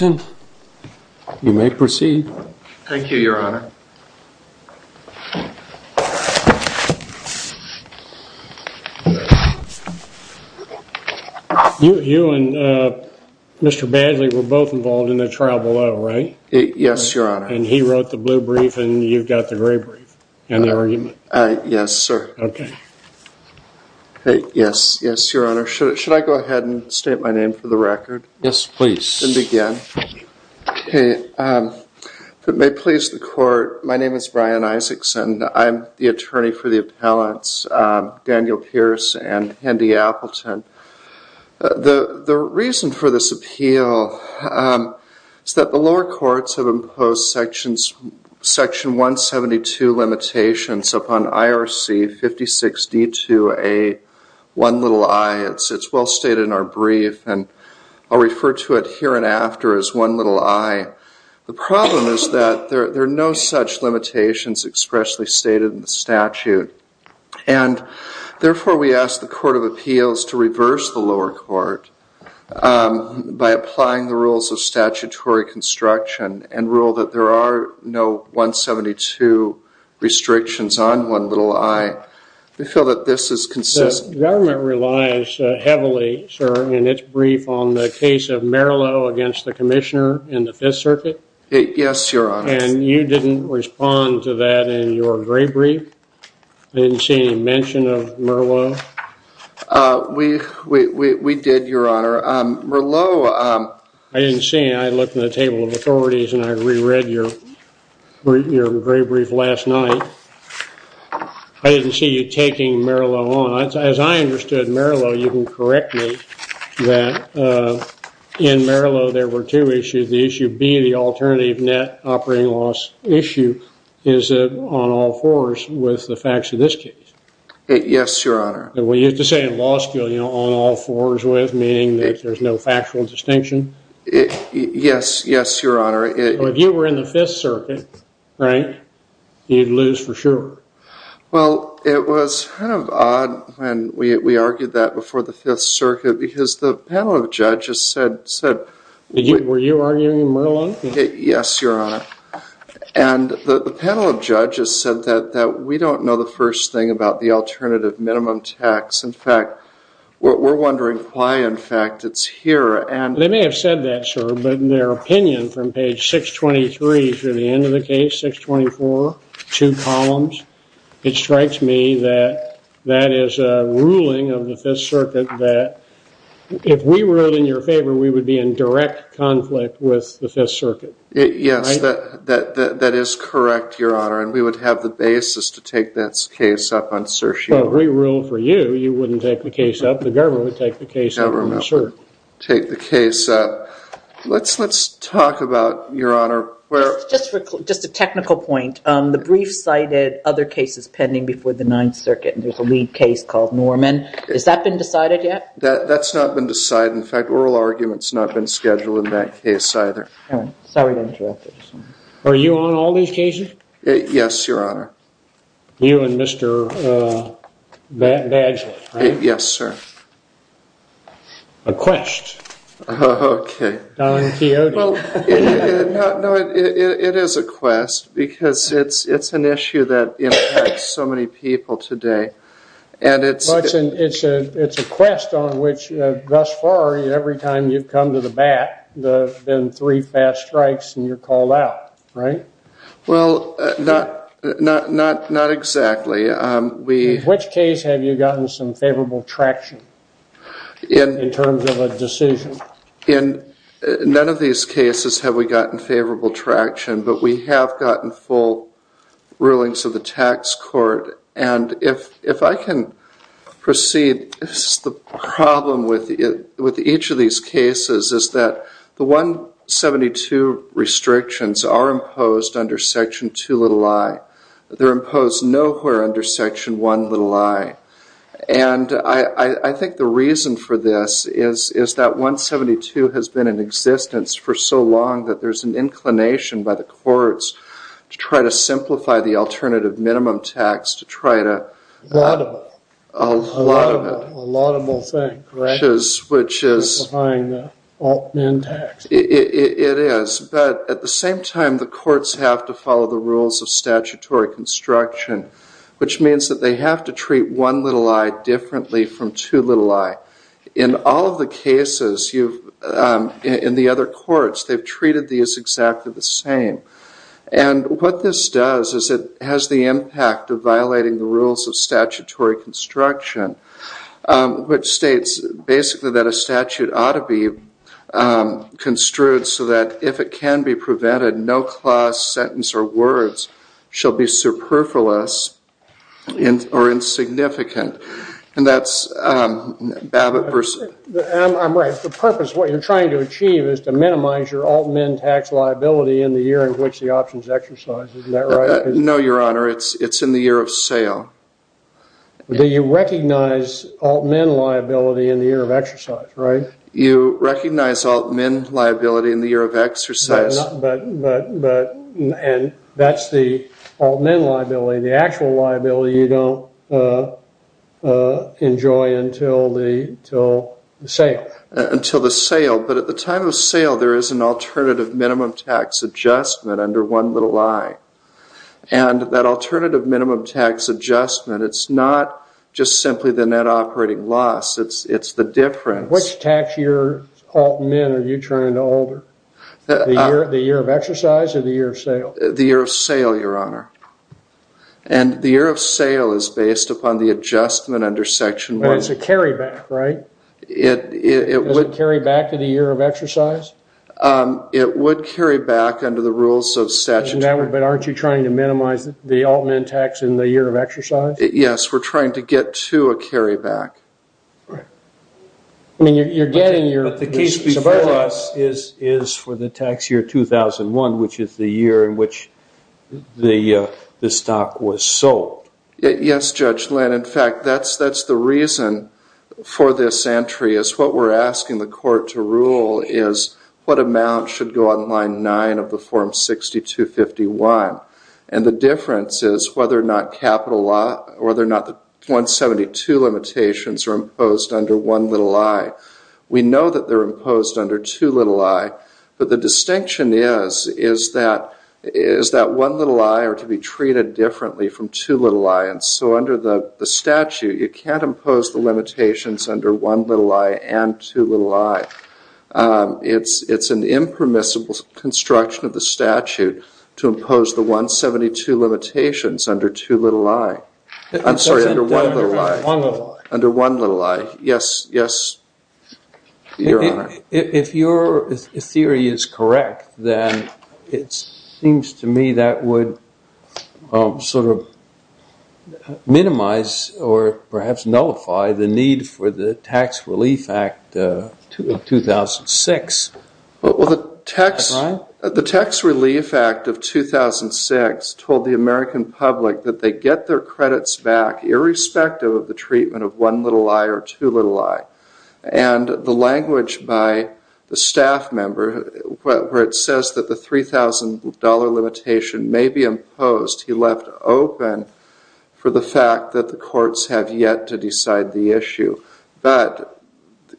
and you may proceed. Thank you your honor. You and Mr. Badly were both involved in the trial below right? Yes your honor. And he wrote the blue brief and you've got the gray brief and the argument. Yes sir. Okay. Yes, yes your honor. Should I go ahead and state my name for the record? Yes please. And begin. Okay. If it may please the court, my name is Brian Isaacson. I'm the attorney for the appellants Daniel Pierce and Hendy Appleton. The reason for this appeal is that the lower courts have imposed section 172 limitations upon IRC 56D2A1i. It's well stated in our brief and I'll refer to it here and after as 1i. The problem is that there are no such limitations expressly stated in the statute. And therefore we ask the court of appeals to reverse the lower court by applying the rules of statutory construction and rule that there are no 172 restrictions on 1i. We feel that this is consistent. The government relies heavily, sir, in its brief on the case of Merillo against the commissioner in the 5th circuit. Yes your honor. And you didn't respond to that in your gray brief? I didn't see any mention of Merillo? We did your honor. Merillo I didn't see any. I looked in the table of authorities and I re-read your gray brief last night. I didn't see you taking Merillo on. As I understood Merillo, you can correct me that in Merillo there were two issues. The issue B, the alternative net operating loss issue, is it on all fours with the facts of this case? Yes your honor. We used to say in law school on all fours with meaning that there's no factual distinction? Yes your honor. If you were in the 5th circuit, Frank, you'd lose for sure. Well, it was kind of odd when we argued that before the 5th circuit because the panel of judges said. Were you arguing Merillo? Yes your honor. And the panel of judges said that we don't know the first thing about the alternative minimum tax. In fact, we're wondering why in fact it's here. They may have said that, sir, but in their opinion from page 623 through the end of the case, 624, two columns, it strikes me that that is a ruling of the 5th circuit that if we ruled in your favor we would be in direct conflict with the 5th circuit. Yes, that is correct, your honor, and we would have the basis to take this case up on certion. If we ruled for you, you wouldn't take the case up, the government would take the case up. Take the case up. Let's talk about, your honor. Just a technical point. The brief cited other cases pending before the 9th circuit. There's a lead case called Norman. Has that been decided yet? That's not been decided. In fact, oral argument's not been scheduled in that case either. Sorry to interrupt. Are you on all these cases? Yes, your honor. You and Mr. Badgley? Yes, sir. A quest. Okay. Don Quixote. It is a quest because it's an issue that impacts so many people today. And it's a quest on which thus far every time you've gone to the bat there's been three fast strikes and you're called out, right? Well, not exactly. In which case have you gotten some favorable traction in terms of a decision? In none of these cases have we gotten favorable traction, but we have gotten full rulings of the tax court. And if 172 restrictions are imposed under section 2 little I, they're imposed nowhere under section 1 little I. And I think the reason for this is that 172 has been in existence for so long that there's an inclination by the courts to try to simplify the alternative minimum tax to try to a lot of them. A lot of them will think, right? Which is behind the alt-min tax. It is, but at the same time the courts have to follow the rules of statutory construction, which means that they have to treat 1 little I differently from 2 little I. In all of the cases you've, in the other courts, they've treated these exactly the same. And what this does is it has the impact of violating the statutory construction, which states basically that a statute ought to be construed so that if it can be prevented, no clause, sentence, or words shall be superfluous or insignificant. And that's Babbitt v. I'm right. The purpose, what you're trying to achieve is to minimize your alt-min tax liability in the year in which the options exercise, isn't that right? No, your honor. It's in the year of sale. Do you recognize alt-min liability in the year of exercise, right? You recognize alt-min liability in the year of exercise. And that's the alt-min liability, the actual liability you don't enjoy until the sale. Until the sale, but at the time of sale there is an alternative minimum tax adjustment under 1 little I. And that alternative minimum tax adjustment, it's not just simply the net operating loss, it's the difference. Which tax year alt-min are you turning to older? The year of exercise or the year of sale? The year of sale, your honor. And the year of sale is based upon the adjustment under section 1. And it's a carry back, right? Does it carry back to the year of exercise? It would carry back under the rules of statute. But aren't you trying to minimize the alt-min tax in the year of exercise? Yes, we're trying to get to a carry back. I mean, you're getting your... But the case before us is for the tax year 2001, which is the year in which the stock was sold. Yes, Judge Lynn. In fact, that's the reason for this entry, is what we're asking the court to rule is what amount should go on line 9 of the form 6251. And the difference is whether or not capital law or whether or not the 172 limitations are imposed under 1 little I. We know that they're imposed under 2 little I, but the distinction is that 1 little I are to be treated differently from 2 little I. And so under the statute, you can't impose the 172 limitations under 1 little I and 2 little I. It's an impermissible construction of the statute to impose the 172 limitations under 2 little I. I'm sorry, under 1 little I. Under 1 little I. Yes, Your Honor. If your theory is correct, then it seems to me that would sort of minimize or perhaps nullify the need for the Tax Relief Act of 2006. Well, the Tax Relief Act of 2006 told the American public that they get their credits back irrespective of the treatment of 1 little I or 2 little I. And the language by the staff member where it says that the $3,000 limitation may be imposed, he left open for the fact that the courts have yet to decide the issue. But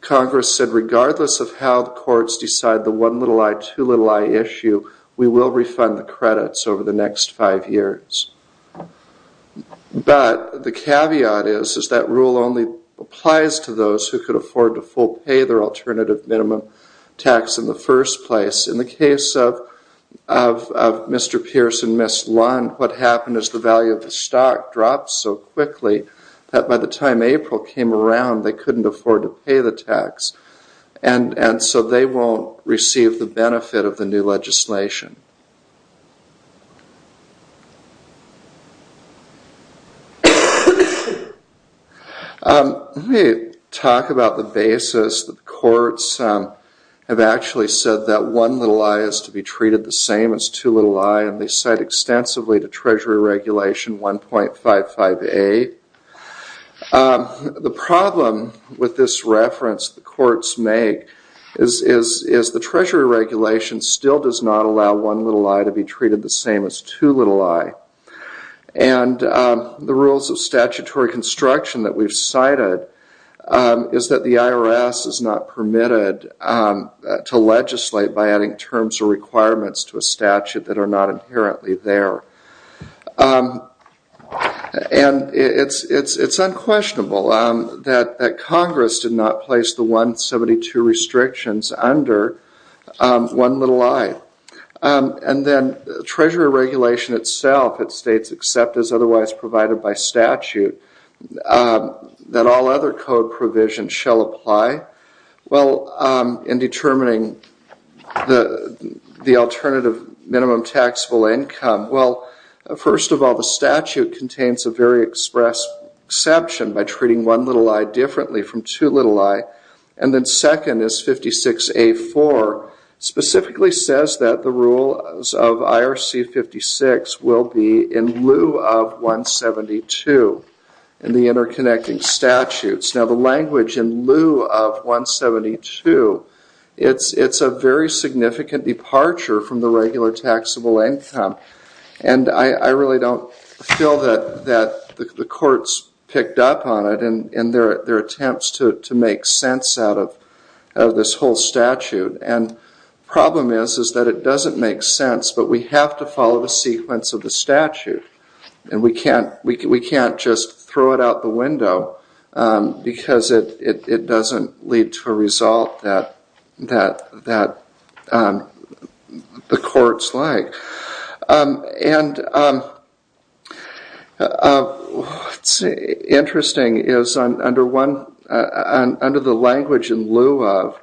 Congress said regardless of how the courts decide the 1 little I, 2 little I issue, we will refund the credits over the next five years. But the caveat is, is that rule only applies to those who could afford to full pay their alternative minimum tax in the first place. In the case of Mr. Pierce and Ms. Lund, what happened is the value of the stock dropped so quickly that by the time April came around, they couldn't afford to pay the tax. And so they won't receive the benefit of the new legislation. Let me talk about the basis that the courts have actually said that 1 little I is to be treated the same as 2 little I. And they said extensively to Treasury Regulation 1.55A. The problem with this reference the courts make is the Treasury Regulation still does not allow 1 little I to be treated the same as 2 little I. And the rules of statutory construction that we've cited is that the IRS is not permitted to legislate by adding terms or requirements to a statute that are not inherently there. And it's unquestionable that Congress did not place the 172 restrictions under 1 little I. And then Treasury Regulation itself, it states except as otherwise provided by statute, that all other code provisions shall apply. Well, in determining the alternative minimum taxable income, well, first of all, the statute contains a very express exception by treating 1 little I differently from 2 little I. And then second is 56A.4, specifically says that the rules of IRC 56 will be in lieu of 172 in the interconnecting statutes. Now, the language in lieu of 172, it's a very significant departure from the regular taxable income. And I really don't feel that the courts picked up on it in their attempts to make sense out of this whole statute. And the problem is that it doesn't make sense, but we have to follow the sequence of the statute. And we can't just throw it out the window because it doesn't lead to a result that the courts like. And what's interesting is under the language in lieu of,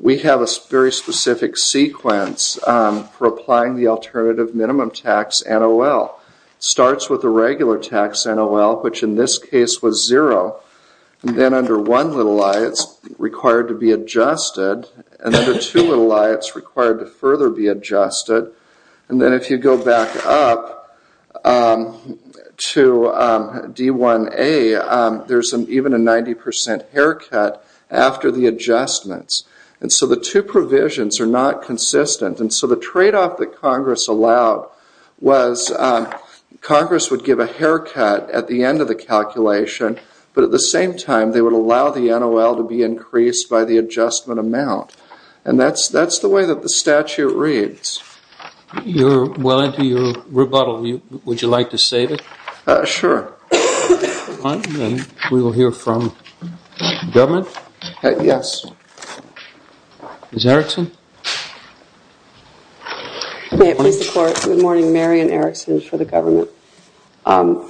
we have a very specific sequence for applying the alternative minimum tax NOL. Starts with the regular tax NOL, which in this case was 0. And then under 1 little I, it's required to be adjusted. And under 2 little I, it's required to further be adjusted. And then if you go back up to D1A, there's even a 90% haircut after the adjustments. And so the two provisions are not consistent. And so the tradeoff that Congress allowed was Congress would give a haircut at the end of the calculation, but at the same time they would allow the NOL to be increased by the adjustment amount. And that's the way that statute reads. You're well into your rebuttal. Would you like to save it? Sure. We will hear from the government. Yes. Ms. Erickson? May it please the court, good morning. Marian Erickson for the government. I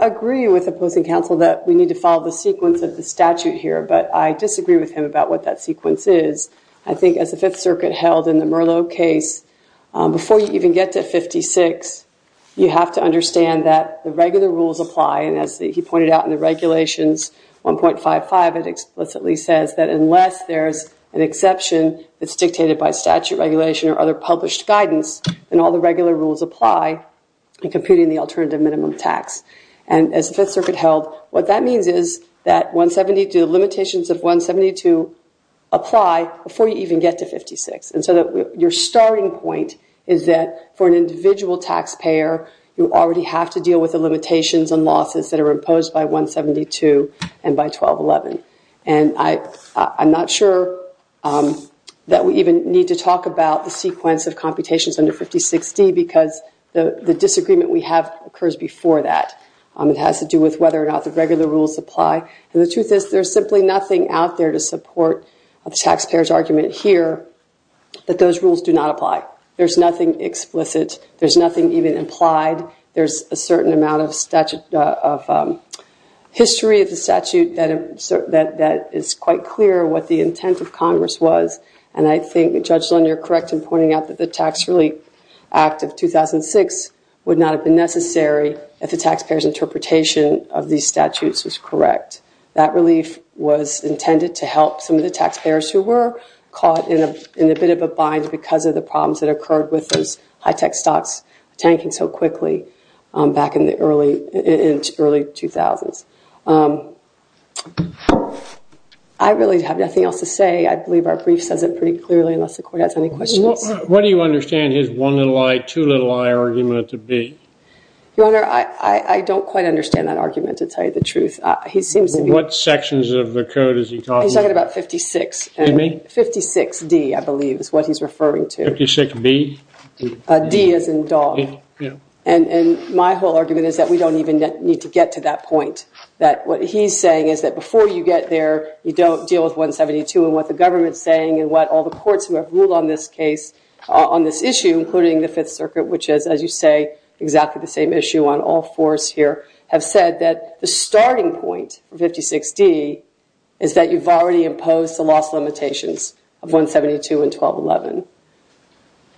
agree with opposing counsel that we need to follow the sequence of the statute here, but I disagree with him about what that sequence is. I think as the Fifth Circuit held in the Merlot case, before you even get to 56, you have to understand that the regular rules apply. And as he pointed out in the regulations 1.55, it explicitly says that unless there's an exception that's dictated by statute regulation or other published guidance, then all the regular rules apply in computing the alternative minimum tax. And as the Fifth Circuit said, the limitations of 172 apply before you even get to 56. And so your starting point is that for an individual taxpayer, you already have to deal with the limitations and losses that are imposed by 172 and by 12.11. And I'm not sure that we even need to talk about the sequence of computations under 56D because the disagreement we have occurs before that. It has to do with whether or not the regular rules apply. And the truth is there's simply nothing out there to support the taxpayer's argument here that those rules do not apply. There's nothing explicit. There's nothing even implied. There's a certain amount of history of the statute that is quite clear what the intent of Congress was. And I think, Judge Lynn, you're correct in pointing out that the Tax Relief Act of 2006 would not have been necessary if the taxpayer's interpretation of these statutes was correct. That relief was intended to help some of the taxpayers who were caught in a bit of a bind because of the problems that occurred with those high-tech stocks tanking so quickly back in the early 2000s. I really have nothing else to say. I believe our brief says it pretty clearly unless the you understand his one little eye, two little eye argument to be? Your Honor, I don't quite understand that argument to tell you the truth. He seems to be... What sections of the code is he talking about? He's talking about 56D, I believe is what he's referring to. 56B? D as in dog. And my whole argument is that we don't even need to get to that point. That what he's saying is that before you get there, you don't deal with 172 and what the on this issue, including the Fifth Circuit, which is, as you say, exactly the same issue on all fours here, have said that the starting point, 56D, is that you've already imposed the loss limitations of 172 and 1211.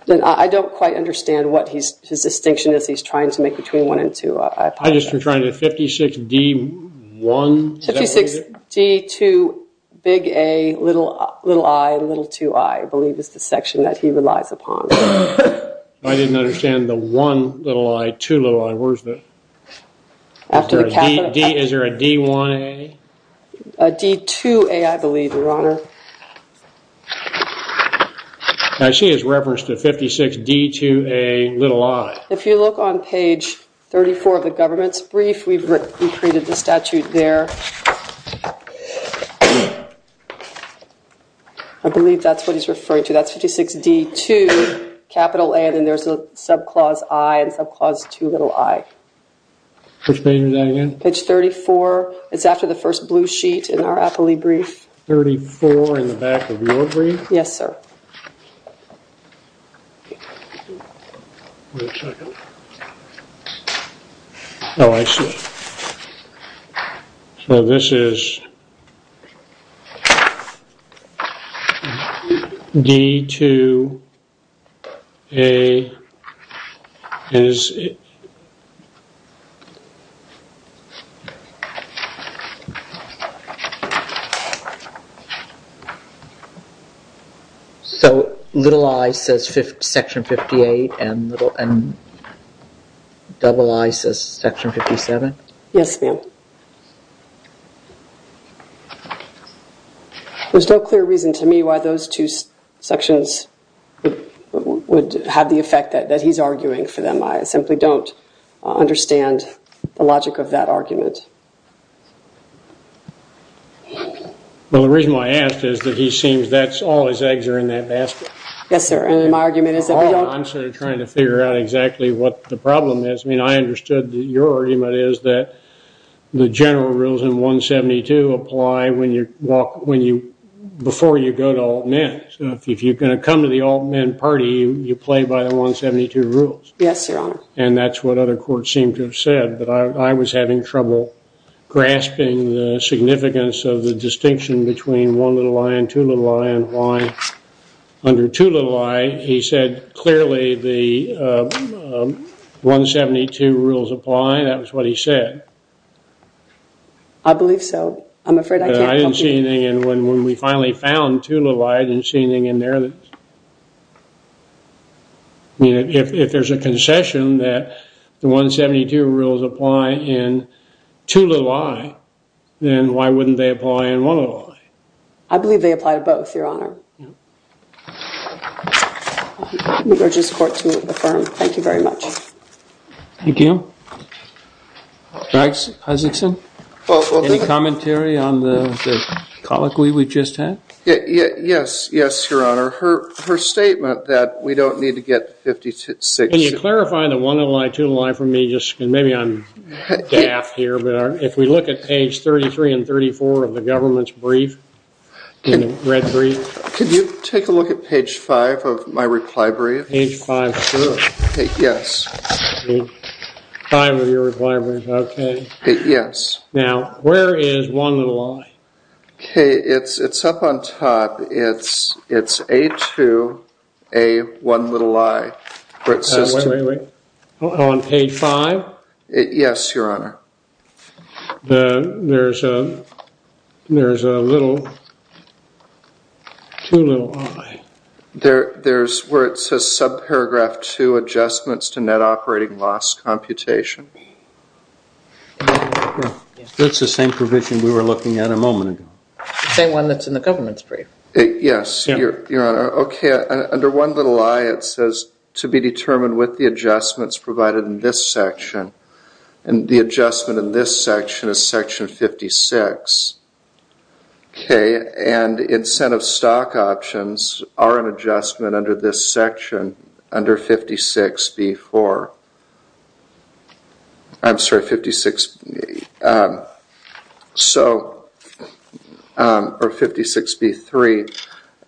And I don't quite understand what his distinction is he's trying to make between one and two. I just am trying to... 56D, one... 56D, two, big A, little eye, little two, I believe is the section that he relies upon. I didn't understand the one little eye, two little eye. Where's the... Is there a D1A? A D2A, I believe, Your Honor. I see his reference to 56D, 2A, little eye. If you look on page 34 of the government's brief, we've recreated the statute there. I believe that's what he's referring to. That's 56D, 2, capital A, and then there's a subclause I and subclause 2, little I. Which page is that again? Page 34. It's after the first blue sheet in our appellee brief. 34 in the back of your brief? Yes, sir. So this is D2A is... So little I says section 58 and little and double I says section 57? Yes, ma'am. There's no clear reason to me why those two sections would have the effect that he's arguing for them. I simply don't understand the logic of that argument. Well, the reason why I asked is that he seems that's all his eggs are in that basket. Yes, sir. And my argument is that... I'm sort of trying to figure out exactly what the problem is. I mean, I understood that your before you go to all men. If you're going to come to the all men party, you play by the 172 rules. Yes, your honor. And that's what other courts seem to have said. But I was having trouble grasping the significance of the distinction between one little I and two little I and why under two little I, he said clearly the 172 rules apply. That was what he said. I believe so. I'm afraid I can't... And when we finally found two little I, I didn't see anything in there that... I mean, if there's a concession that the 172 rules apply in two little I, then why wouldn't they apply in one little I? I believe they apply to both, your honor. I urge this court to affirm. Thank you very much. Thank you. Dr. Isaacson, any commentary on the colloquy we just had? Yes, yes, your honor. Her statement that we don't need to get 56... Can you clarify the one little I, two little I for me? Maybe I'm daft here, but if we look at page 33 and 34 of the government's brief, in the red brief... Could you take a look at page 5 of my reply brief? Page 5, sure. Yes. 5 of your reply brief, okay. Yes. Now, where is one little I? Okay, it's up on top. It's A2, A1 little I. Wait, wait, wait. On page 5? Yes, your honor. There's a little... Two little I. There's where it says, subparagraph 2, adjustments to net operating loss computation. That's the same provision we were looking at a moment ago. The same one that's in the government's brief. Yes, your honor. Okay, under one little I, it says, to be determined with the adjustments provided in this section. And the adjustment in this section is section 56. Okay, and incentive stock options are an adjustment under this section, under 56B4. I'm sorry, 56... So, or 56B3.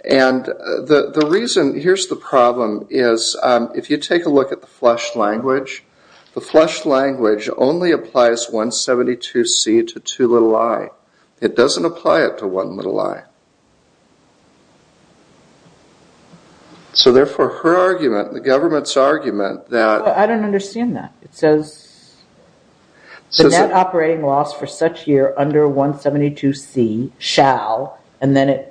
And the reason... Here's the problem is, if you take a look at the flush language, the flush language only applies 172C to two little I. It doesn't apply it to one little I. So therefore, her argument, the government's argument that... I don't understand that. It says... It says... The net operating loss for such year under 172C shall, and then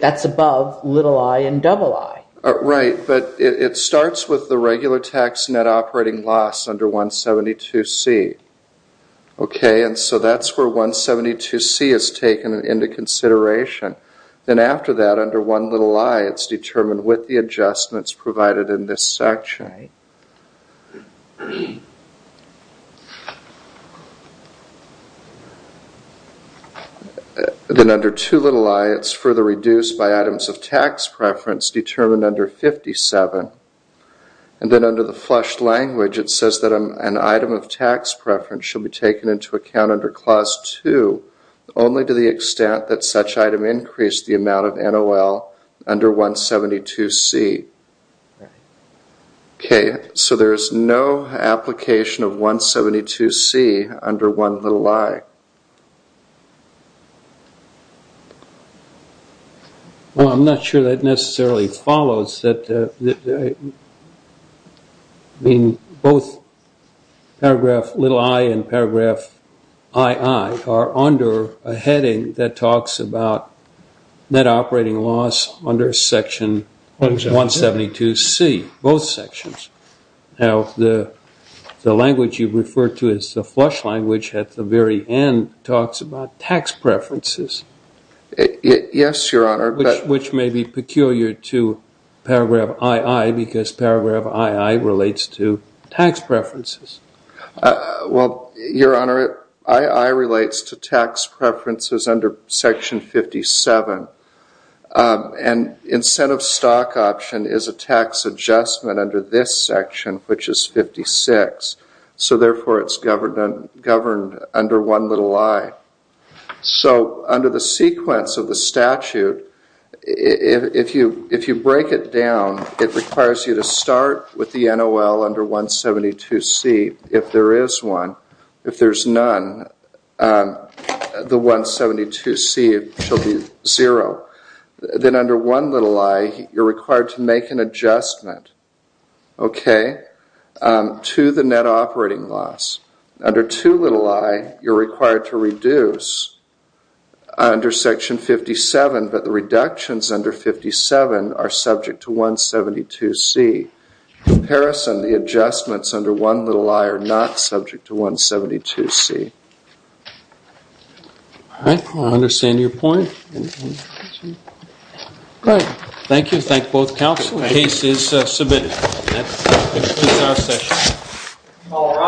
that's above little I and double I. Right, but it starts with the regular tax net operating loss under 172C. Okay, and so that's where 172C is taken into consideration. Then after that, under one little I, it's determined with the adjustments provided in this section. Then under two little I, it's further reduced by items of tax preference determined under 57. And then under the flush language, it says that an item of tax preference shall be taken into account under clause two, only to the extent that such item increased the amount of NOL under 172C. Okay, so there is no application of 172C under one little I. Well, I'm not sure that necessarily follows that... I mean, both paragraph little I and paragraph II are under a heading that talks about net operating loss under section 172C, both sections. Now, the language you refer to as the flush language at the very end talks about tax preferences. Yes, Your Honor. Which may be peculiar to paragraph II, because paragraph II relates to tax preferences. Well, Your Honor, II relates to tax preferences under section 57. And incentive stock option is a tax adjustment under this section, which is 56. So therefore, it's governed under one little I. So under the sequence of the statute, if you break it down, it requires you to start with the NOL under 172C. If there is one, if there's none, the 172C shall be zero. Then under one little I, you're required to make an adjustment, okay, to the net operating loss. Under two little I, you're required to reduce under section 57, but the reductions under 57 are subject to 172C. Comparison, the adjustments under one little I are not subject to 172C. All right, I understand your point. All right, thank you. Thank both counsel. The case is submitted. All rise.